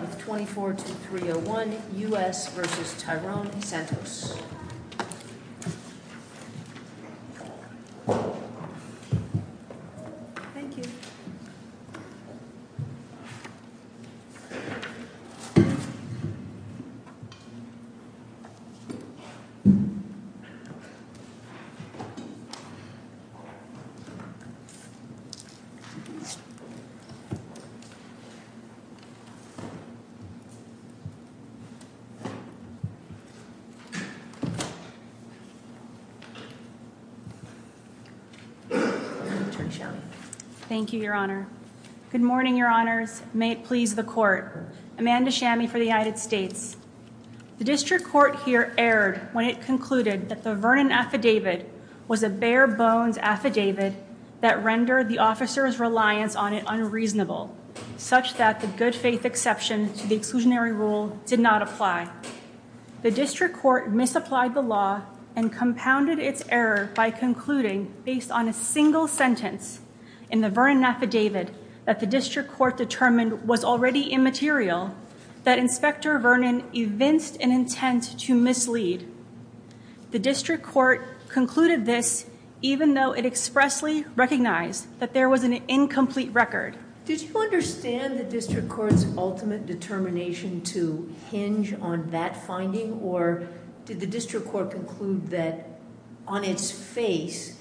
24-301 U.S. v. Tyrone Santos Thank you, Your Honor. Good morning, Your Honors. May it please the court. Amanda Shammy for the United States. The district court here erred when it concluded that the Vernon affidavit was a bare-bones affidavit that rendered the officer's reliance on it unreasonable, such that the good-faith exception did not apply. The district court misapplied the law and compounded its error by concluding, based on a single sentence in the Vernon affidavit that the district court determined was already immaterial, that Inspector Vernon evinced an intent to mislead. The district court concluded this even though it expressly recognized that there was an incomplete record. Did you understand the district court's ultimate determination to hinge on that finding, or did the district court conclude that, on its face,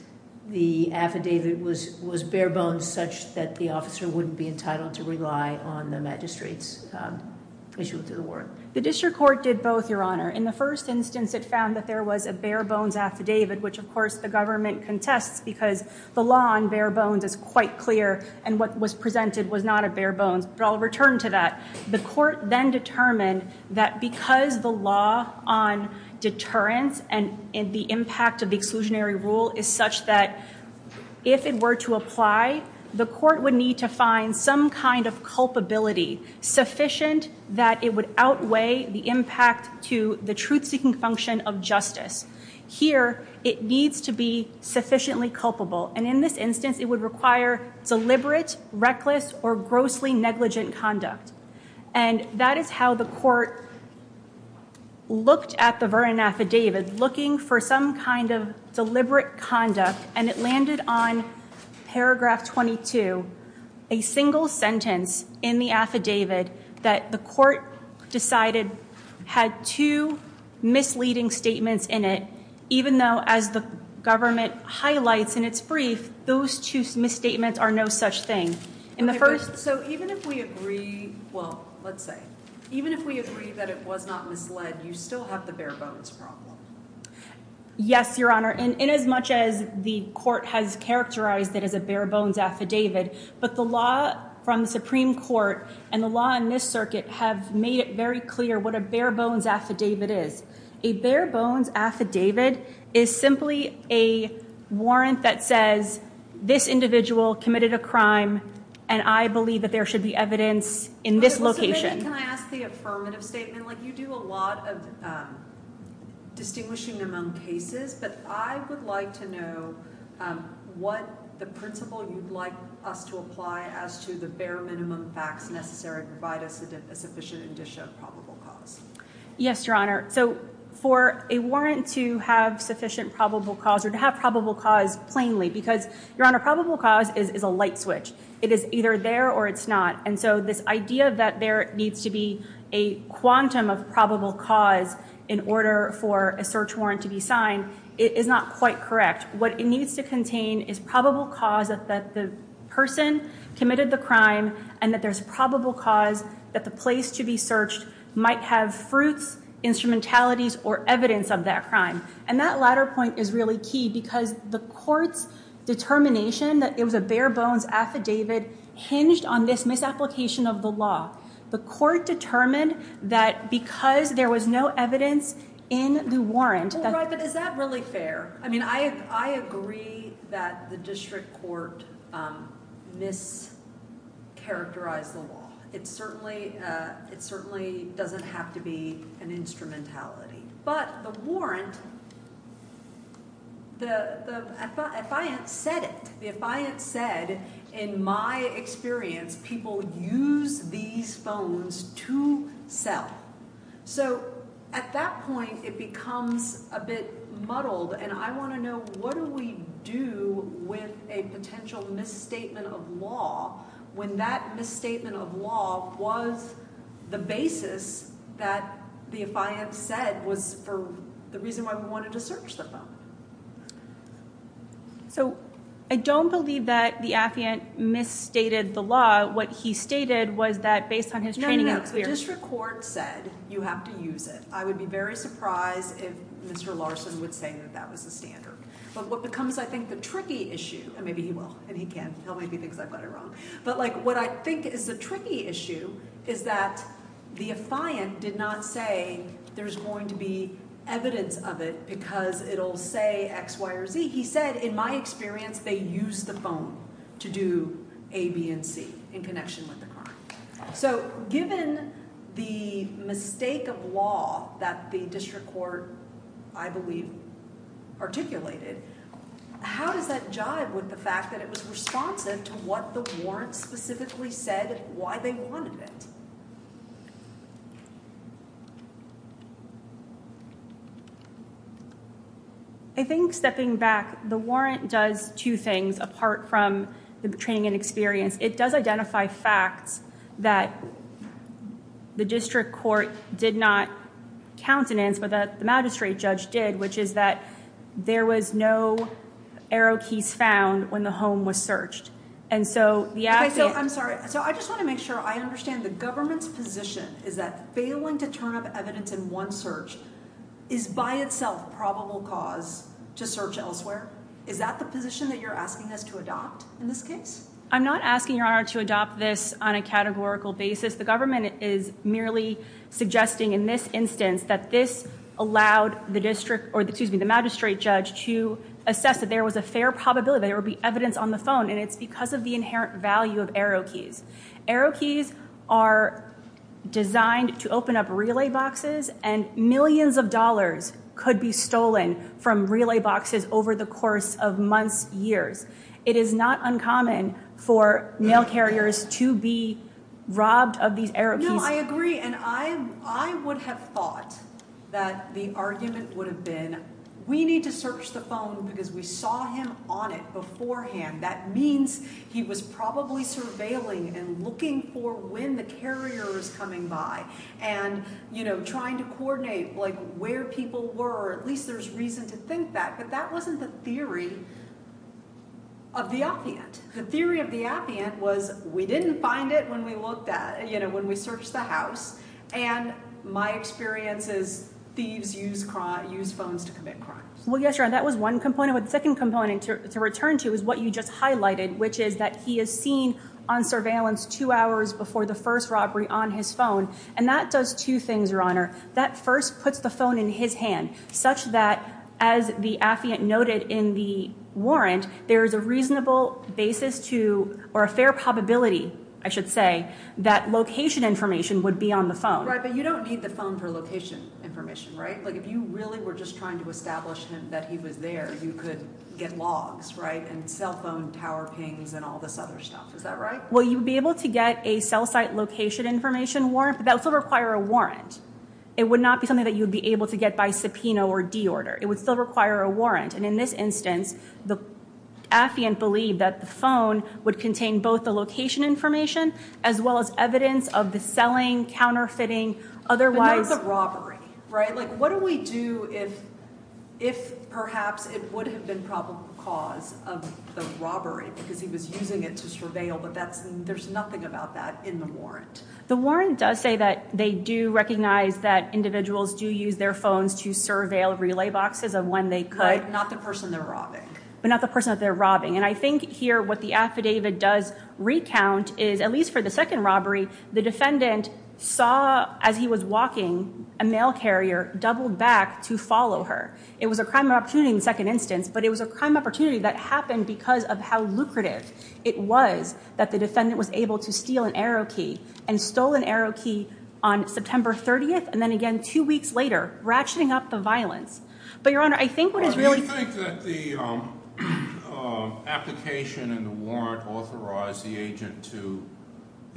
the affidavit was bare-bones such that the officer wouldn't be entitled to rely on the magistrate's issue to the warrant? The district court did both, Your Honor. In the first instance, it found that there was a bare-bones affidavit, which, of course, the government contests because the law on bare-bones is quite clear and what was presented was not a bare-bones. But I'll return to that. The court then determined that because the law on deterrence and the impact of the exclusionary rule is such that, if it were to apply, the court would need to find some kind of culpability sufficient that it would outweigh the impact to the truth-seeking function of justice. Here, it needs to be sufficiently culpable. And in this instance, it would require deliberate, reckless, or grossly negligent conduct. And that is how the court looked at the Vernon affidavit, looking for some kind of deliberate conduct, and it landed on paragraph 22, a single sentence in the affidavit that the court decided had two misleading statements in it. Even though, as the government highlights in its brief, those two misstatements are no such thing. So even if we agree, well, let's say, even if we agree that it was not misled, you still have the bare-bones problem. Yes, Your Honor. In as much as the court has characterized it as a bare-bones affidavit, but the law from the Supreme Court and the law in this circuit have made it very clear what a bare-bones affidavit is. A bare-bones affidavit is simply a warrant that says this individual committed a crime, and I believe that there should be evidence in this location. Can I ask the affirmative statement? You do a lot of distinguishing among cases, but I would like to know what the principle you'd like us to apply as to the bare minimum facts necessary to provide us a sufficient indicia of probable cause. Yes, Your Honor. So for a warrant to have sufficient probable cause or to have probable cause plainly, because, Your Honor, probable cause is a light switch. It is either there or it's not, and so this idea that there needs to be a quantum of probable cause in order for a search warrant to be signed is not quite correct. What it needs to contain is probable cause that the person committed the crime and that there's probable cause that the place to be searched might have fruits, instrumentalities, or evidence of that crime. And that latter point is really key because the court's determination that it was a bare-bones affidavit hinged on this misapplication of the law. The court determined that because there was no evidence in the warrant... But is that really fair? I mean, I agree that the district court mischaracterized the law. It certainly doesn't have to be an instrumentality. But the warrant, the affiant said it. The affiant said, in my experience, people use these phones to sell. So at that point, it becomes a bit muddled, and I want to know what do we do with a potential misstatement of law when that misstatement of law was the basis that the affiant said was the reason why we wanted to search the phone? So I don't believe that the affiant misstated the law. What he stated was that based on his training... If the district court said you have to use it, I would be very surprised if Mr. Larson would say that that was the standard. But what becomes, I think, the tricky issue... And maybe he will, and he can. He'll maybe think I've got it wrong. But what I think is the tricky issue is that the affiant did not say there's going to be evidence of it because it'll say X, Y, or Z. He said, in my experience, they use the phone to do A, B, and C in connection with the crime. So given the mistake of law that the district court, I believe, articulated, how does that jive with the fact that it was responsive to what the warrant specifically said why they wanted it? I think, stepping back, the warrant does two things apart from the training and experience. It does identify facts that the district court did not countenance, but that the magistrate judge did, which is that there was no arrow keys found when the home was searched. I'm sorry. So I just want to make sure I understand the government's position is that failing to turn up evidence in one search is by itself probable cause to search elsewhere. Is that the position that you're asking us to adopt in this case? I'm not asking your honor to adopt this on a categorical basis. The government is merely suggesting in this instance that this allowed the magistrate judge to assess that there was a fair probability that there would be evidence on the phone, and it's because of the inherent value of arrow keys. Arrow keys are designed to open up relay boxes, and millions of dollars could be stolen from relay boxes over the course of months, years. It is not uncommon for mail carriers to be robbed of these arrow keys. No, I agree, and I would have thought that the argument would have been we need to search the phone because we saw him on it beforehand. That means he was probably surveilling and looking for when the carrier was coming by and trying to coordinate where people were. At least there's reason to think that, but that wasn't the theory of the opiate. The theory of the opiate was we didn't find it when we looked at, you know, when we searched the house. And my experience is thieves use crime, use phones to commit crimes. Well, yes, that was one component with the second component to return to is what you just highlighted, which is that he is seen on surveillance two hours before the first robbery on his phone. And that does two things, Your Honor. That first puts the phone in his hand such that, as the affiant noted in the warrant, there is a reasonable basis to or a fair probability, I should say, that location information would be on the phone. Right. But you don't need the phone for location information, right? Like, if you really were just trying to establish that he was there, you could get logs, right? And cell phone tower pings and all this other stuff. Is that right? Well, you would be able to get a cell site location information warrant, but that would still require a warrant. It would not be something that you would be able to get by subpoena or deorder. It would still require a warrant. And in this instance, the affiant believed that the phone would contain both the location information as well as evidence of the selling, counterfeiting, otherwise. But not the robbery, right? What do we do if perhaps it would have been probable cause of the robbery because he was using it to surveil? But there's nothing about that in the warrant. The warrant does say that they do recognize that individuals do use their phones to surveil relay boxes of when they could. Right. Not the person they're robbing. But not the person that they're robbing. And I think here what the affidavit does recount is, at least for the second robbery, the defendant saw, as he was walking, a mail carrier doubled back to follow her. It was a crime of opportunity in the second instance, but it was a crime of opportunity that happened because of how lucrative it was that the defendant was able to steal an arrow key and stole an arrow key on September 30th and then again two weeks later, ratcheting up the violence. I really think that the application and the warrant authorized the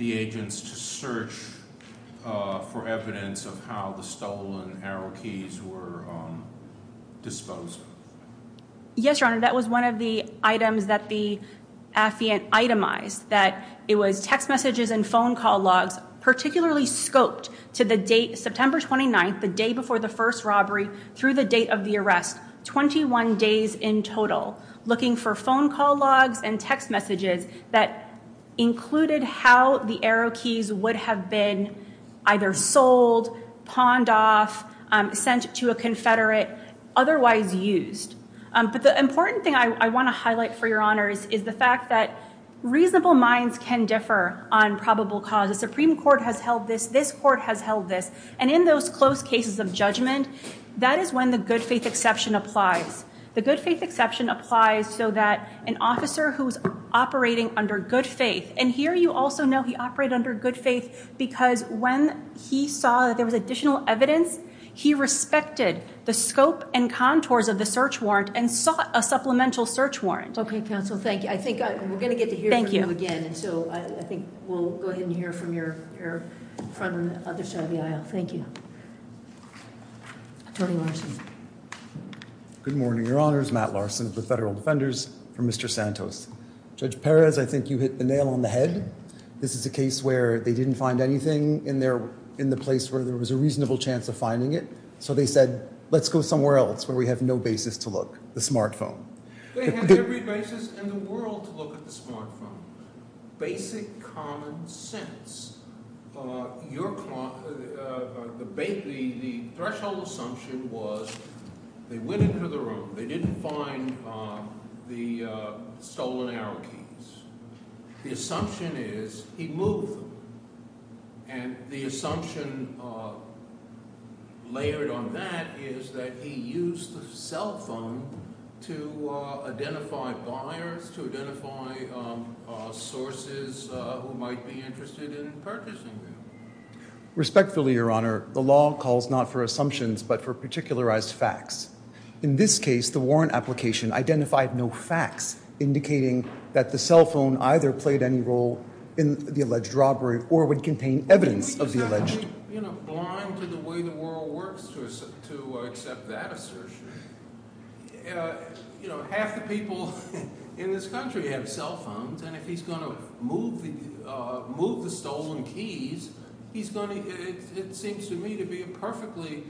agents to search for evidence of how the stolen arrow keys were disposed of. Yes, Your Honor, that was one of the items that the affiant itemized, that it was text messages and phone call logs, particularly scoped to the date September 29th, the day before the first robbery through the date of the arrest. 21 days in total, looking for phone call logs and text messages that included how the arrow keys would have been either sold, pawned off, sent to a confederate, otherwise used. But the important thing I want to highlight for Your Honor is the fact that reasonable minds can differ on probable cause. The Supreme Court has held this. This court has held this. And in those close cases of judgment, that is when the good faith exception applies. The good faith exception applies so that an officer who is operating under good faith, and here you also know he operated under good faith because when he saw that there was additional evidence, he respected the scope and contours of the search warrant and sought a supplemental search warrant. Okay, counsel. Thank you. I think we're going to get to hear from you again. And so I think we'll go ahead and hear from your front and other side of the aisle. Thank you. Attorney Larson. Good morning, Your Honors. Matt Larson of the Federal Defenders for Mr. Santos. Judge Perez, I think you hit the nail on the head. This is a case where they didn't find anything in the place where there was a reasonable chance of finding it, so they said let's go somewhere else where we have no basis to look, the smartphone. They have every basis in the world to look at the smartphone. Basic common sense. The threshold assumption was they went into the room. They didn't find the stolen arrow keys. The assumption is he moved them, and the assumption layered on that is that he used the cell phone to identify buyers, to identify sources who might be interested in purchasing them. Respectfully, Your Honor, the law calls not for assumptions but for particularized facts. In this case, the warrant application identified no facts indicating that the cell phone either played any role in the alleged robbery or would contain evidence of the alleged robbery. How can you be blind to the way the world works to accept that assertion? Half the people in this country have cell phones, and if he's going to move the stolen keys, he's going to – it seems to me to be a perfectly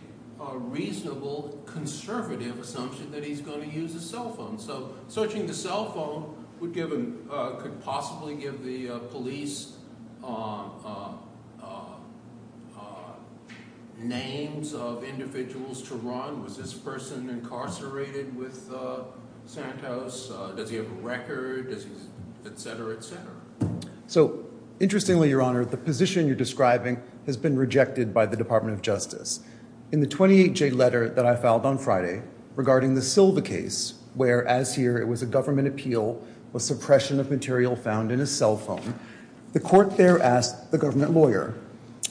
reasonable, conservative assumption that he's going to use his cell phone. So searching the cell phone would give him – could possibly give the police names of individuals to run. Was this person incarcerated with Santos? Does he have a record? Does he – etc., etc. So, interestingly, Your Honor, the position you're describing has been rejected by the Department of Justice. In the 28J letter that I filed on Friday regarding the Silva case, where, as here, it was a government appeal with suppression of material found in his cell phone, the court there asked the government lawyer,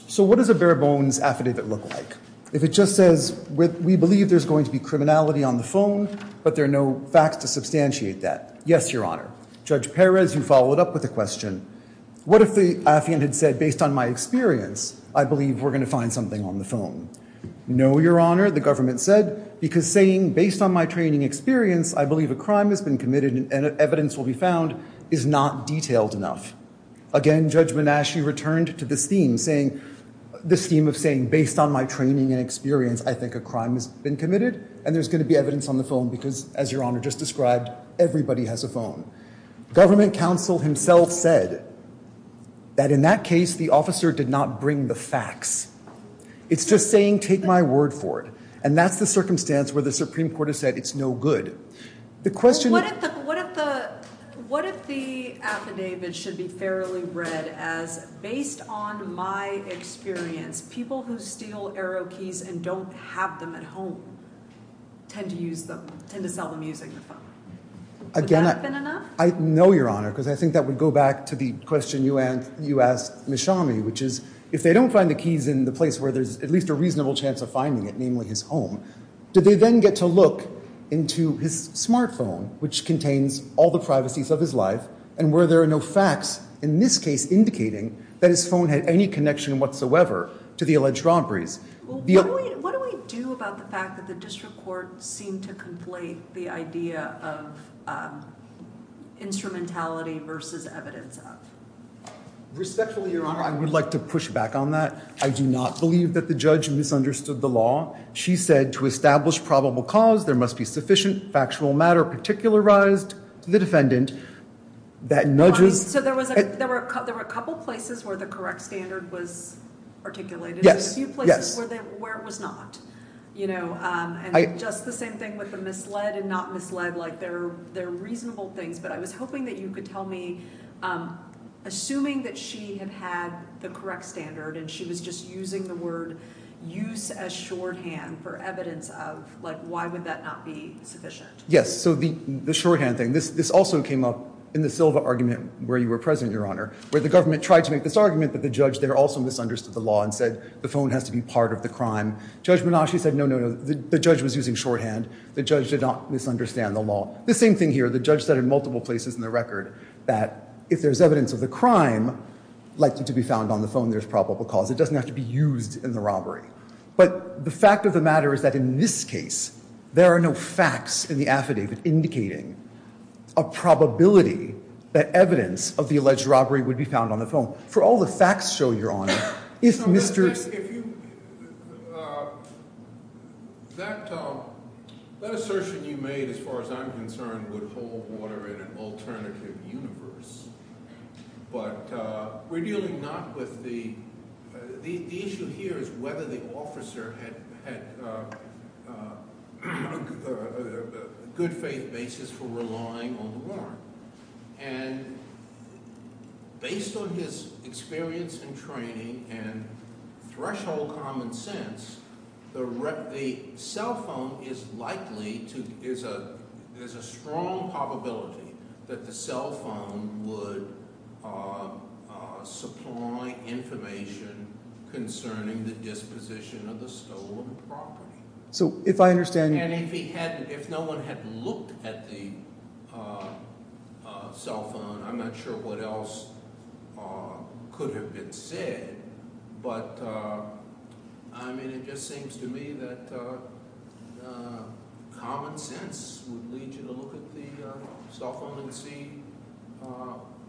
So what does a bare-bones affidavit look like? If it just says, we believe there's going to be criminality on the phone, but there are no facts to substantiate that. Yes, Your Honor. Judge Perez, you followed up with a question. What if the affiant had said, based on my experience, I believe we're going to find something on the phone? No, Your Honor, the government said, because saying, based on my training and experience, I believe a crime has been committed and evidence will be found, is not detailed enough. Again, Judge Menasche returned to this theme, saying – this theme of saying, based on my training and experience, I think a crime has been committed, and there's going to be evidence on the phone because, as Your Honor just described, everybody has a phone. Government counsel himself said that, in that case, the officer did not bring the facts. It's just saying, take my word for it. And that's the circumstance where the Supreme Court has said it's no good. The question – What if the affidavit should be fairly read as, based on my experience, people who steal arrow keys and don't have them at home tend to use them, tend to sell them using the phone? Would that have been enough? I know, Your Honor, because I think that would go back to the question you asked Ms. Shami, which is, if they don't find the keys in the place where there's at least a reasonable chance of finding it, namely his home, do they then get to look into his smartphone, which contains all the privacies of his life, and where there are no facts in this case indicating that his phone had any connection whatsoever to the alleged robberies? What do we do about the fact that the district court seemed to conflate the idea of instrumentality versus evidence of? Respectfully, Your Honor, I would like to push back on that. I do not believe that the judge misunderstood the law. She said, to establish probable cause, there must be sufficient factual matter particularized to the defendant that nudges – So there were a couple places where the correct standard was articulated. There were a few places where it was not. And just the same thing with the misled and not misled. They're reasonable things, but I was hoping that you could tell me, assuming that she had had the correct standard and she was just using the word use as shorthand for evidence of, why would that not be sufficient? Yes, so the shorthand thing. This also came up in the Silva argument where you were present, Your Honor, where the government tried to make this argument that the judge there also misunderstood the law and said the phone has to be part of the crime. Judge Menashe said, no, no, no, the judge was using shorthand. The judge did not misunderstand the law. The same thing here. The judge said in multiple places in the record that if there's evidence of the crime likely to be found on the phone, there's probable cause. It doesn't have to be used in the robbery. But the fact of the matter is that in this case, there are no facts in the affidavit indicating a probability that evidence of the alleged robbery would be found on the phone. For all the facts show, Your Honor, if Mr. That assertion you made, as far as I'm concerned, would hold water in an alternative universe. But we're dealing not with the – the issue here is whether the officer had a good faith basis for relying on the warrant. And based on his experience and training and threshold common sense, the cell phone is likely to – there's a strong probability that the cell phone would supply information concerning the disposition of the stolen property. And if he hadn't – if no one had looked at the cell phone, I'm not sure what else could have been said. But, I mean, it just seems to me that common sense would lead you to look at the cell phone and see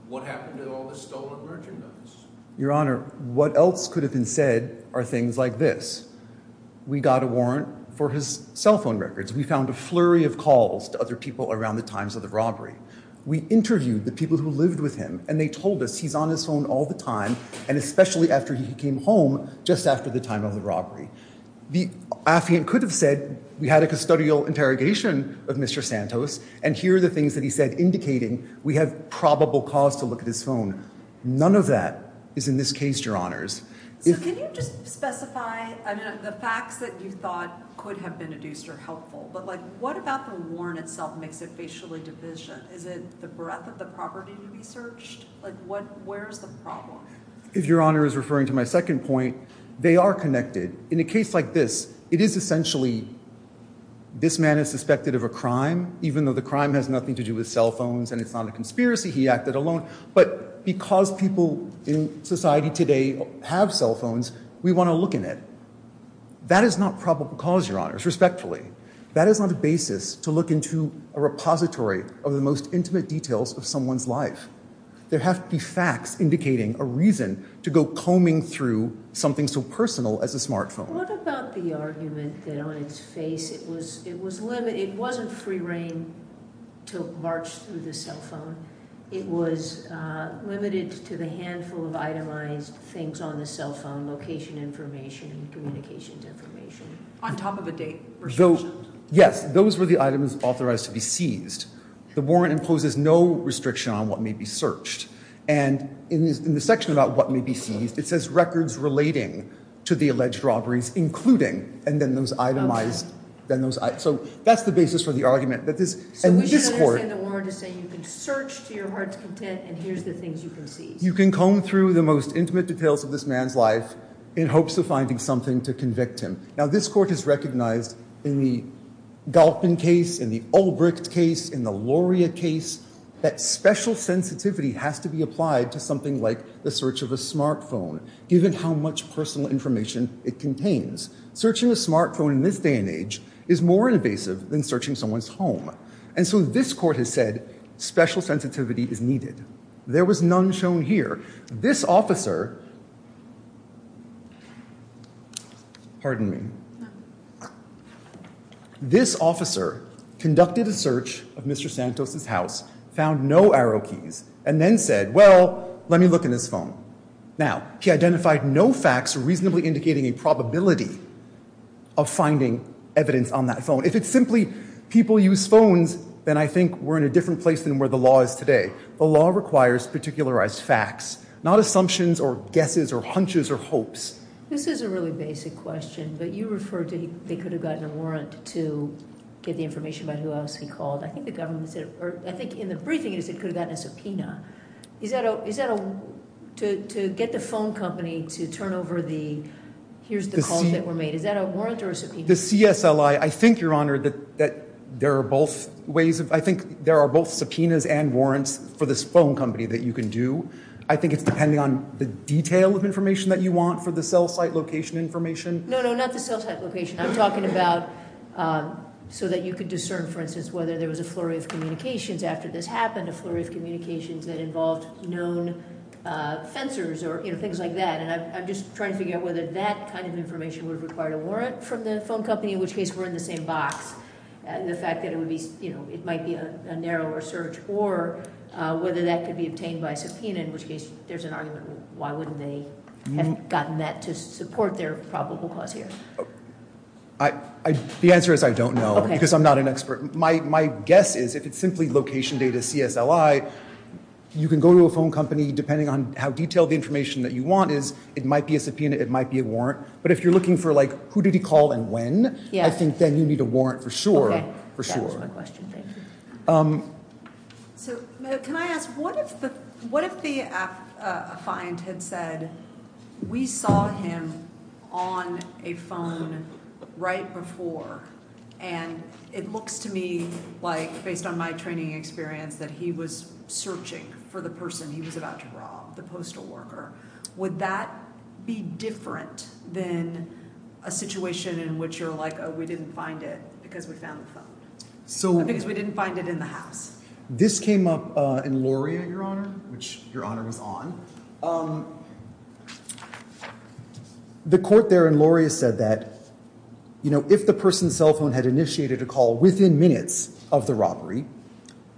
what happened to all the stolen merchandise. Your Honor, what else could have been said are things like this. We got a warrant for his cell phone records. We found a flurry of calls to other people around the times of the robbery. We interviewed the people who lived with him, and they told us he's on his phone all the time, and especially after he came home, just after the time of the robbery. The affiant could have said we had a custodial interrogation of Mr. Santos, and here are the things that he said indicating we have probable cause to look at his phone. None of that is in this case, Your Honors. So can you just specify – I mean, the facts that you thought could have been deduced are helpful, but, like, what about the warrant itself makes it facially division? Is it the breadth of the property to be searched? Like, what – where is the problem? If Your Honor is referring to my second point, they are connected. In a case like this, it is essentially this man is suspected of a crime, even though the crime has nothing to do with cell phones and it's not a conspiracy. He acted alone, but because people in society today have cell phones, we want to look in it. That is not probable cause, Your Honors, respectfully. That is not a basis to look into a repository of the most intimate details of someone's life. There have to be facts indicating a reason to go combing through something so personal as a smartphone. What about the argument that on its face it was limited – it wasn't free reign to march through the cell phone. It was limited to the handful of itemized things on the cell phone, location information and communications information. On top of a date restriction. Yes, those were the items authorized to be seized. The warrant imposes no restriction on what may be searched. And in the section about what may be seized, it says records relating to the alleged robberies, including – and then those itemized. So that's the basis for the argument. So we should understand the warrant to say you can search to your heart's content and here's the things you can seize. You can comb through the most intimate details of this man's life in hopes of finding something to convict him. Now this court has recognized in the Galpin case, in the Ulbricht case, in the Loria case, that special sensitivity has to be applied to something like the search of a smartphone given how much personal information it contains. Searching a smartphone in this day and age is more invasive than searching someone's home. And so this court has said special sensitivity is needed. There was none shown here. This officer – pardon me. This officer conducted a search of Mr. Santos' house, found no arrow keys, and then said, well, let me look in his phone. Now, he identified no facts reasonably indicating a probability of finding evidence on that phone. If it's simply people use phones, then I think we're in a different place than where the law is today. The law requires particularized facts, not assumptions or guesses or hunches or hopes. This is a really basic question, but you referred to they could have gotten a warrant to get the information about who else he called. I think the government said – or I think in the briefing it said could have gotten a subpoena. Is that a – to get the phone company to turn over the – here's the calls that were made. Is that a warrant or a subpoena? The CSLI, I think, Your Honor, that there are both ways of – I think there are both subpoenas and warrants for this phone company that you can do. I think it's depending on the detail of information that you want for the cell site location information. No, no, not the cell site location. I'm talking about so that you could discern, for instance, whether there was a flurry of communications after this happened, a flurry of communications that involved known fencers or things like that. And I'm just trying to figure out whether that kind of information would require a warrant from the phone company, in which case we're in the same box, the fact that it would be – it might be a narrower search, or whether that could be obtained by subpoena, in which case there's an argument. Why wouldn't they have gotten that to support their probable cause here? The answer is I don't know because I'm not an expert. My guess is if it's simply location data CSLI, you can go to a phone company, depending on how detailed the information that you want is, it might be a subpoena, it might be a warrant. But if you're looking for, like, who did he call and when, I think then you need a warrant for sure, for sure. Okay. That answers my question. Thank you. So, can I ask, what if the client had said, we saw him on a phone right before, and it looks to me like, based on my training experience, that he was searching for the person he was about to rob, the postal worker. Would that be different than a situation in which you're like, oh, we didn't find it because we found the phone? Because we didn't find it in the house. This came up in Loria, Your Honor, which Your Honor was on. The court there in Loria said that, you know, if the person's cell phone had initiated a call within minutes of the robbery,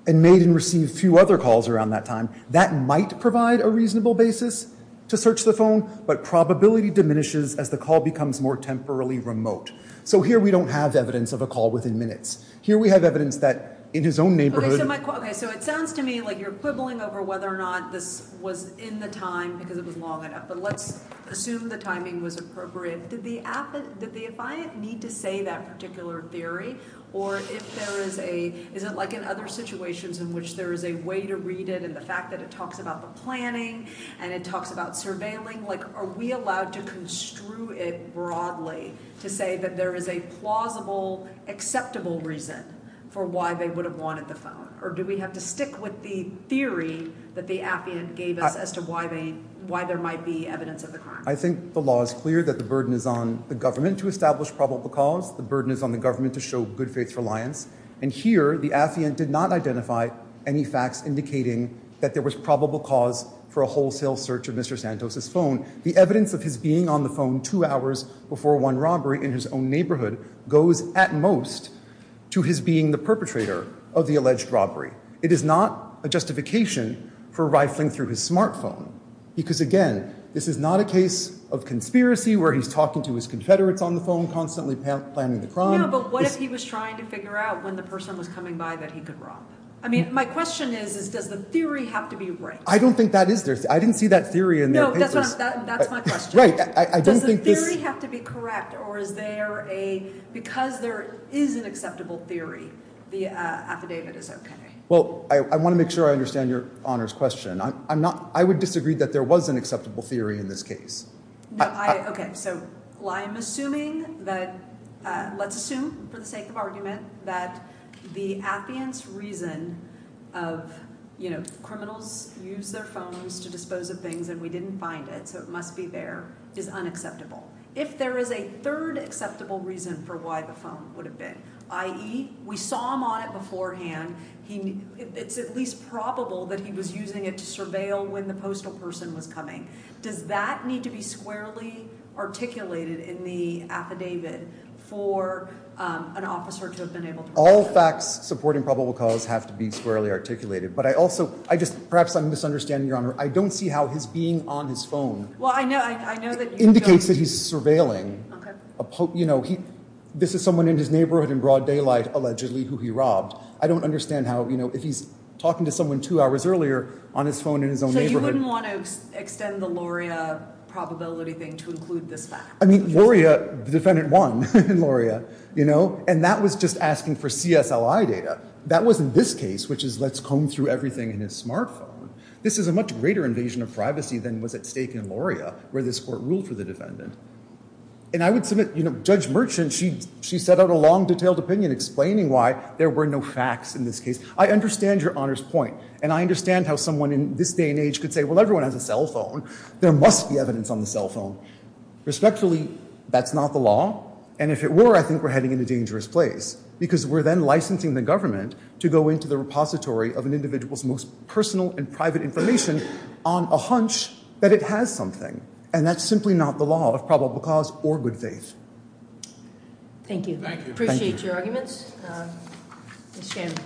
and made and received a few other calls around that time, that might provide a reasonable basis to search the phone, but probability diminishes as the call becomes more temporarily remote. So here we don't have evidence of a call within minutes. Here we have evidence that in his own neighborhood. Okay. So it sounds to me like you're quibbling over whether or not this was in the time because it was long enough, but let's assume the timing was appropriate. Did the client need to say that particular theory, or is it like in other situations in which there is a way to read it, and the fact that it talks about the planning, and it talks about surveilling? Are we allowed to construe it broadly to say that there is a plausible, acceptable reason for why they would have wanted the phone? Or do we have to stick with the theory that the affiant gave us as to why there might be evidence of the crime? I think the law is clear that the burden is on the government to establish probable cause. The burden is on the government to show good faith reliance. And here the affiant did not identify any facts indicating that there was probable cause for a wholesale search of Mr. Santos' phone. The evidence of his being on the phone two hours before one robbery in his own neighborhood goes at most to his being the perpetrator of the alleged robbery. It is not a justification for rifling through his smartphone because, again, this is not a case of conspiracy where he's talking to his confederates on the phone constantly planning the crime. No, but what if he was trying to figure out when the person was coming by that he could rob? I mean, my question is, does the theory have to be right? I don't think that is. I didn't see that theory in their papers. No, that's my question. Right, I don't think this— Does the theory have to be correct, or is there a—because there is an acceptable theory, the affidavit is okay? Well, I want to make sure I understand Your Honor's question. I would disagree that there was an acceptable theory in this case. Okay, so I'm assuming that—let's assume for the sake of argument that the affidavit's reason of, you know, criminals use their phones to dispose of things and we didn't find it so it must be there, is unacceptable. If there is a third acceptable reason for why the phone would have been, i.e., we saw him on it beforehand, it's at least probable that he was using it to surveil when the postal person was coming. Does that need to be squarely articulated in the affidavit for an officer to have been able to— All facts supporting probable cause have to be squarely articulated. But I also—I just—perhaps I'm misunderstanding, Your Honor. I don't see how his being on his phone indicates that he's surveilling. Okay. You know, this is someone in his neighborhood in broad daylight allegedly who he robbed. I don't understand how, you know, if he's talking to someone two hours earlier on his phone in his own neighborhood— I mean, Loria—the defendant won in Loria, you know, and that was just asking for CSLI data. That wasn't this case, which is let's comb through everything in his smartphone. This is a much greater invasion of privacy than was at stake in Loria where this court ruled for the defendant. And I would submit, you know, Judge Merchant, she set out a long, detailed opinion explaining why there were no facts in this case. I understand Your Honor's point and I understand how someone in this day and age could say, well, everyone has a cell phone. There must be evidence on the cell phone. Respectfully, that's not the law, and if it were, I think we're heading in a dangerous place because we're then licensing the government to go into the repository of an individual's most personal and private information on a hunch that it has something. And that's simply not the law of probable cause or good faith. Thank you. Thank you. Appreciate your arguments. Ms. Shannon.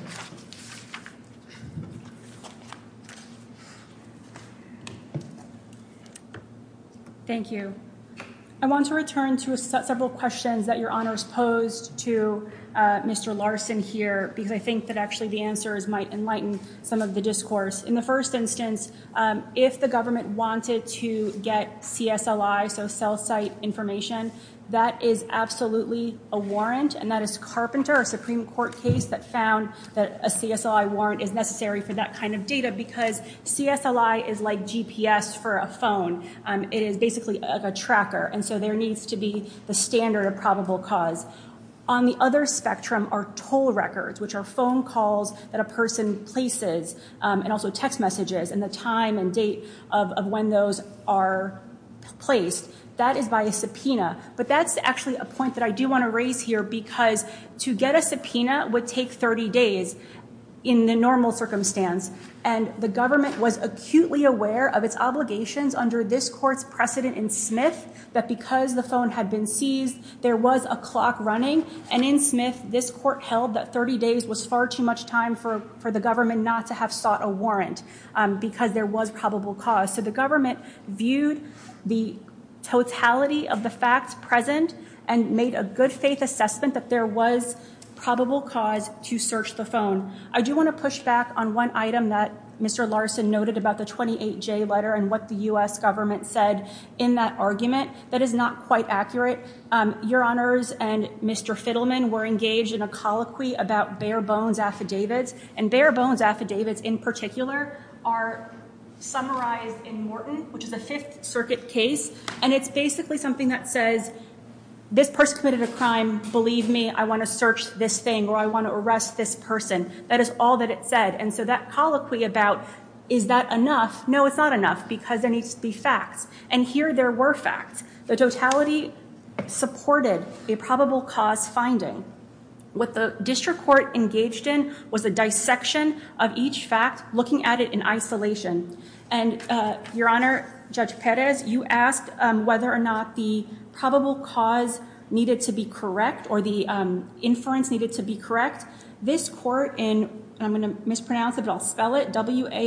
Thank you. I want to return to several questions that Your Honor has posed to Mr. Larson here because I think that actually the answers might enlighten some of the discourse. In the first instance, if the government wanted to get CSLI, so cell site information, that is absolutely a warrant and that is Carpenter, a Supreme Court case, that found that a CSLI warrant is necessary for that kind of data because CSLI is like GPS for a phone. It is basically a tracker, and so there needs to be the standard of probable cause. On the other spectrum are toll records, which are phone calls that a person places and also text messages and the time and date of when those are placed. That is by a subpoena, but that's actually a point that I do want to raise here because to get a subpoena would take 30 days in the normal circumstance, and the government was acutely aware of its obligations under this court's precedent in Smith that because the phone had been seized, there was a clock running, and in Smith, this court held that 30 days was far too much time for the government not to have sought a warrant because there was probable cause. So the government viewed the totality of the facts present and made a good faith assessment that there was probable cause to search the phone. I do want to push back on one item that Mr. Larson noted about the 28J letter and what the U.S. government said in that argument. That is not quite accurate. Your Honors and Mr. Fiddleman were engaged in a colloquy about bare-bones affidavits, and bare-bones affidavits in particular are summarized in Morton, which is a Fifth Circuit case, and it's basically something that says, this person committed a crime, believe me, I want to search this thing or I want to arrest this person. That is all that it said. And so that colloquy about is that enough? No, it's not enough because there needs to be facts. And here there were facts. The totality supported a probable cause finding. What the district court engaged in was a dissection of each fact, looking at it in isolation. And, Your Honor, Judge Perez, you asked whether or not the probable cause needed to be correct or the inference needed to be correct. This court in, I'm going to mispronounce it, but I'll spell it, WALCZYK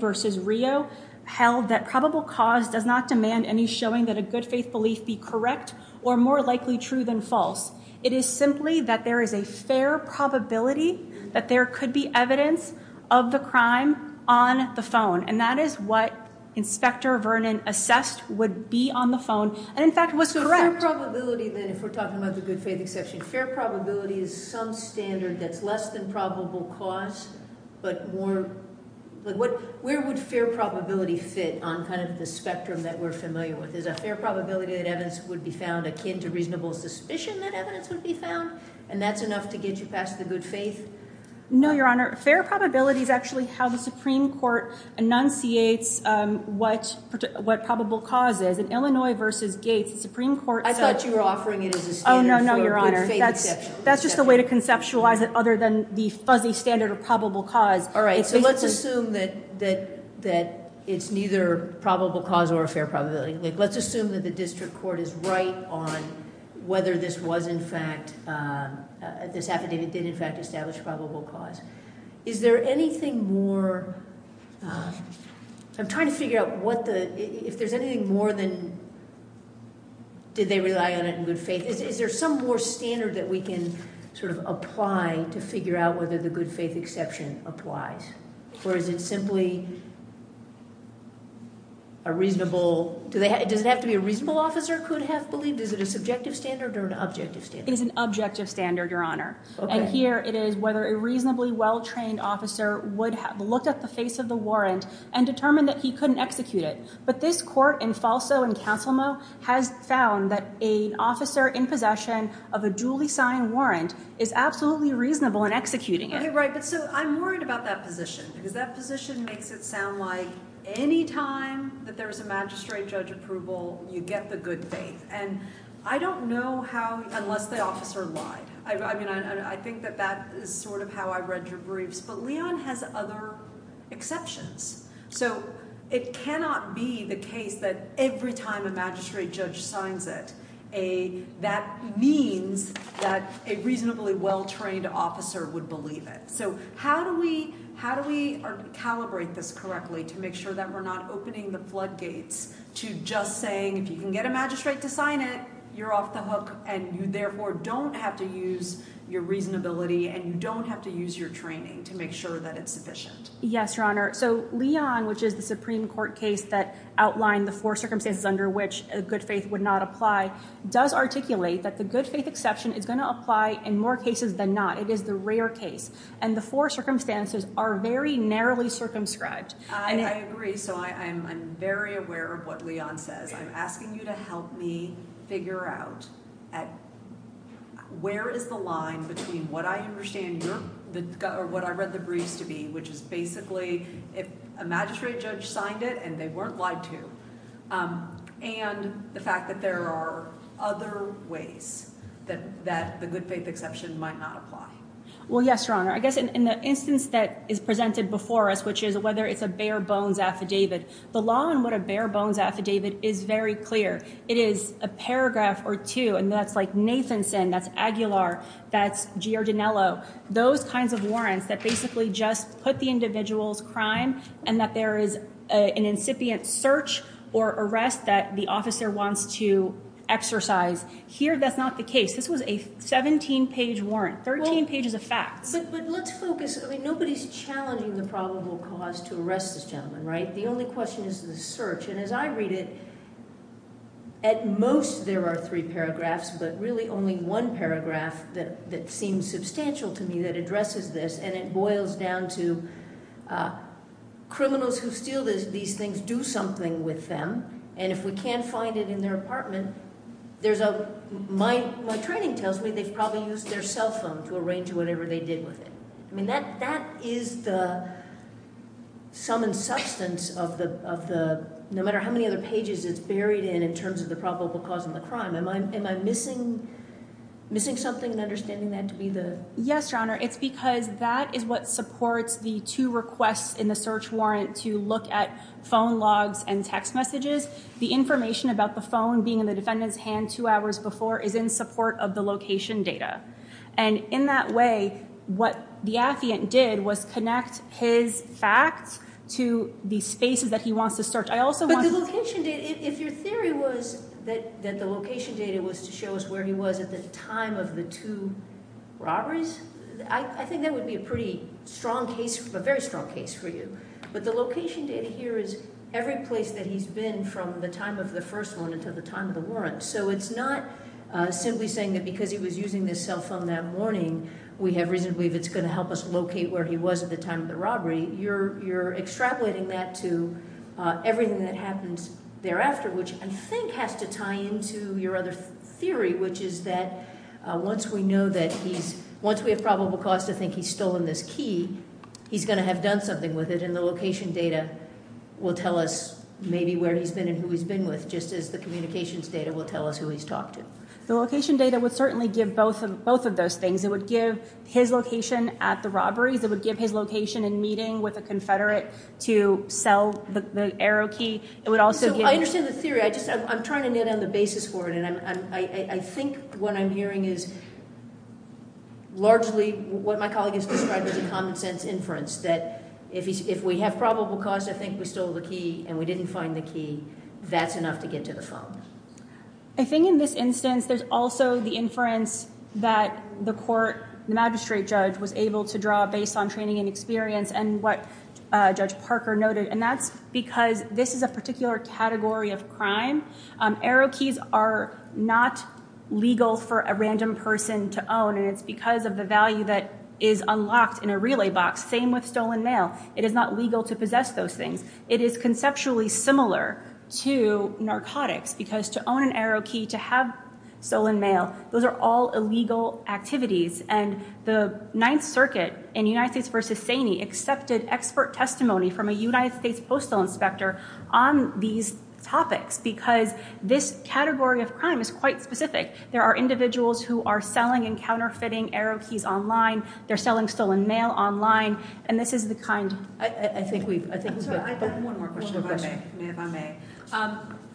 v. Rio held that probable cause does not demand any showing that a good-faith belief be correct or more likely true than false. It is simply that there is a fair probability that there could be evidence of the crime on the phone. And that is what Inspector Vernon assessed would be on the phone and, in fact, was correct. So fair probability, then, if we're talking about the good-faith exception, fair probability is some standard that's less than probable cause but more, where would fair probability fit on kind of the spectrum that we're familiar with? Is a fair probability that evidence would be found akin to reasonable suspicion that evidence would be found? And that's enough to get you past the good faith? No, Your Honor. Fair probability is actually how the Supreme Court enunciates what probable cause is. In Illinois v. Gates, the Supreme Court said... I thought you were offering it as a standard for good-faith exception. That's just a way to conceptualize it other than the fuzzy standard of probable cause. All right, so let's assume that it's neither probable cause or a fair probability. Let's assume that the district court is right on whether this was, in fact, this affidavit did, in fact, establish probable cause. Is there anything more... I'm trying to figure out what the... If there's anything more than did they rely on it in good faith, is there some more standard that we can sort of apply to figure out whether the good-faith exception applies? Or is it simply a reasonable... Does it have to be a reasonable officer could have believed? Is it a subjective standard or an objective standard? It is an objective standard, Your Honor. And here it is whether a reasonably well-trained officer would have looked at the face of the warrant and determined that he couldn't execute it. But this court in Falso and Councilmo has found that an officer in possession of a duly signed warrant is absolutely reasonable in executing it. Right, but so I'm worried about that position because that position makes it sound like any time that there's a magistrate judge approval, you get the good faith. And I don't know how... unless the officer lied. I mean, I think that that is sort of how I read your briefs. But Leon has other exceptions. So it cannot be the case that every time a magistrate judge signs it, that means that a reasonably well-trained officer would believe it. So how do we calibrate this correctly to make sure that we're not opening the floodgates to just saying if you can get a magistrate to sign it, you're off the hook and you therefore don't have to use your reasonability and you don't have to use your training to make sure that it's sufficient. Yes, Your Honor. So Leon, which is the Supreme Court case that outlined the four circumstances under which a good faith would not apply, does articulate that the good faith exception is going to apply in more cases than not. It is the rare case. And the four circumstances are very narrowly circumscribed. I agree. So I'm very aware of what Leon says. I'm asking you to help me figure out where is the line between what I understand or what I read the briefs to be, which is basically if a magistrate judge signed it and they weren't lied to, and the fact that there are other ways that the good faith exception might not apply. Well, yes, Your Honor. I guess in the instance that is presented before us, which is whether it's a bare bones affidavit, the law on what a bare bones affidavit is very clear. It is a paragraph or two, and that's like Nathanson, that's Aguilar, that's Giordanello, those kinds of warrants that basically just put the individual's crime and that there is an incipient search or arrest that the officer wants to exercise. Here, that's not the case. This was a 17-page warrant, 13 pages of facts. But let's focus. I mean, nobody's challenging the probable cause to arrest this gentleman, right? The only question is the search, and as I read it, at most there are three paragraphs, but really only one paragraph that seems substantial to me that addresses this, and it boils down to criminals who steal these things do something with them, and if we can't find it in their apartment, my training tells me they've probably used their cell phone to arrange whatever they did with it. I mean, that is the sum and substance of the, no matter how many other pages it's buried in in terms of the probable cause of the crime. Am I missing something in understanding that to be the... Yes, Your Honor, it's because that is what supports the two requests in the search warrant to look at phone logs and text messages. The information about the phone being in the defendant's hand two hours before is in support of the location data, and in that way, what the affiant did was connect his facts to the spaces that he wants to search. I also want to... But the location data, if your theory was that the location data was to show us where he was at the time of the two robberies, I think that would be a pretty strong case, a very strong case for you, but the location data here is every place that he's been from the time of the first one until the time of the warrant, so it's not simply saying that because he was using this cell phone that morning, we have reason to believe it's going to help us locate where he was at the time of the robbery. You're extrapolating that to everything that happens thereafter, which I think has to tie into your other theory, which is that once we know that he's... Once we have probable cause to think he's stolen this key, he's going to have done something with it, and the location data will tell us maybe where he's been and who he's been with, just as the communications data will tell us who he's talked to. The location data would certainly give both of those things. It would give his location at the robberies. It would give his location in meeting with a confederate to sell the arrow key. It would also give... So I understand the theory. I'm trying to net on the basis for it, and I think what I'm hearing is largely what my colleague has described as a common sense inference, that if we have probable cause to think we stole the key and we didn't find the key, that's enough to get to the phone. I think in this instance there's also the inference that the court, the magistrate judge was able to draw based on training and experience and what Judge Parker noted, and that's because this is a particular category of crime. Arrow keys are not legal for a random person to own, and it's because of the value that is unlocked in a relay box. Same with stolen mail. It is not legal to possess those things. It is conceptually similar to narcotics because to own an arrow key, to have stolen mail, those are all illegal activities, and the Ninth Circuit in United States v. Saney accepted expert testimony from a United States postal inspector on these topics because this category of crime is quite specific. There are individuals who are selling and counterfeiting arrow keys online. They're selling stolen mail online, and this is the kind. One more question if I may.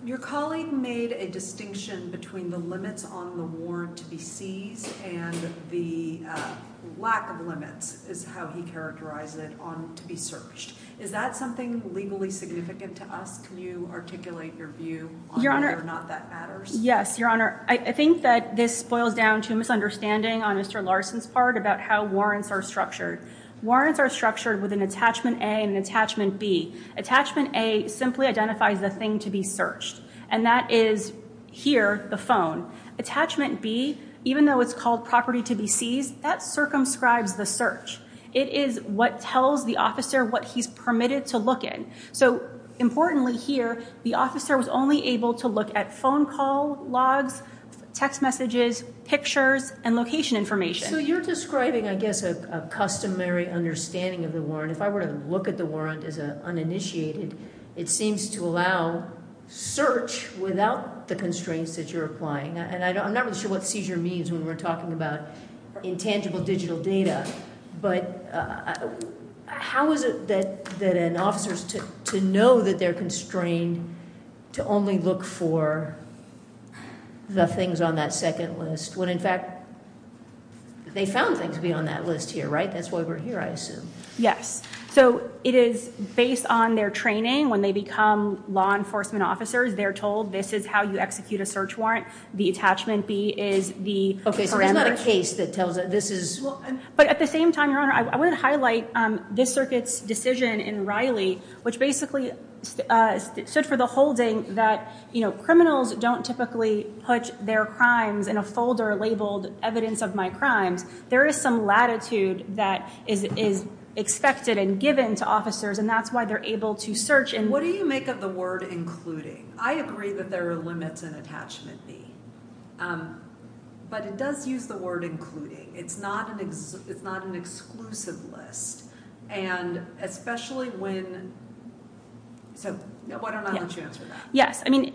Your colleague made a distinction between the limits on the warrant to be seized and the lack of limits is how he characterized it on to be searched. Is that something legally significant to us? Can you articulate your view on whether or not that matters? Yes, Your Honor. I think that this boils down to a misunderstanding on Mr. Larson's part about how warrants are structured. Warrants are structured with an attachment A and an attachment B. Attachment A simply identifies the thing to be searched, and that is here, the phone. Attachment B, even though it's called property to be seized, that circumscribes the search. It is what tells the officer what he's permitted to look in. So importantly here, the officer was only able to look at phone call logs, text messages, pictures, and location information. So you're describing, I guess, a customary understanding of the warrant. If I were to look at the warrant as uninitiated, it seems to allow search without the constraints that you're applying. I'm not really sure what seizure means when we're talking about intangible digital data, but how is it that an officer is to know that they're constrained to only look for the things on that second list when, in fact, they found things beyond that list here, right? That's why we're here, I assume. Yes. So it is based on their training. When they become law enforcement officers, they're told this is how you execute a search warrant. The attachment B is the parameter. Okay, so there's not a case that tells that this is. But at the same time, Your Honor, I want to highlight this circuit's decision in Riley, which basically stood for the holding that, you know, evidence of my crimes, there is some latitude that is expected and given to officers, and that's why they're able to search. What do you make of the word including? I agree that there are limits in attachment B, but it does use the word including. It's not an exclusive list, and especially when – so why don't I let you answer that? Yes. I mean,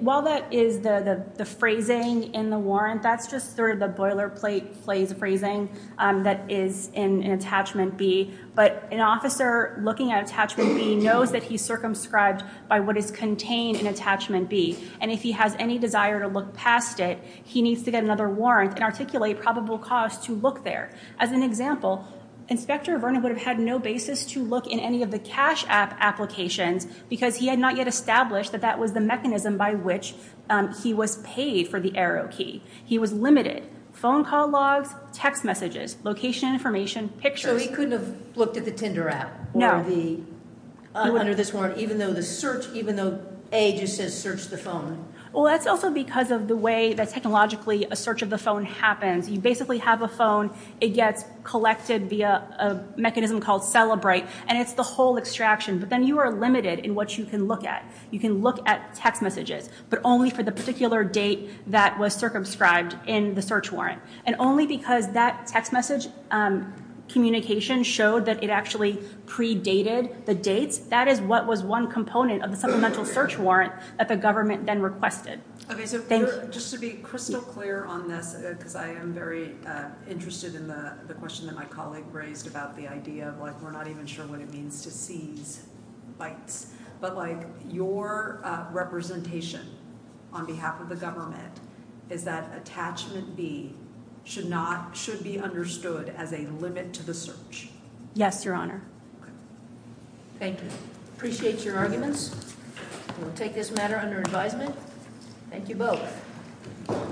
while that is the phrasing in the warrant, that's just sort of the boilerplate phrasing that is in attachment B. But an officer looking at attachment B knows that he's circumscribed by what is contained in attachment B, and if he has any desire to look past it, he needs to get another warrant and articulate probable cause to look there. As an example, Inspector Vernon would have had no basis to look in any of the cash app applications because he had not yet established that that was the mechanism by which he was paid for the arrow key. He was limited. Phone call logs, text messages, location information, pictures. So he couldn't have looked at the Tinder app or the – Under this warrant, even though the search – even though A just says search the phone? Well, that's also because of the way that technologically a search of the phone happens. You basically have a phone. It gets collected via a mechanism called Celebrate, and it's the whole extraction. But then you are limited in what you can look at. You can look at text messages, but only for the particular date that was circumscribed in the search warrant. And only because that text message communication showed that it actually predated the dates, that is what was one component of the supplemental search warrant that the government then requested. Okay, so just to be crystal clear on this, because I am very interested in the question that my colleague raised about the idea of, like, we're not even sure what it means to seize bytes. But, like, your representation on behalf of the government is that attachment B should not – should be understood as a limit to the search. Yes, Your Honor. Okay. Thank you. Appreciate your arguments. We'll take this matter under advisement. Thank you both.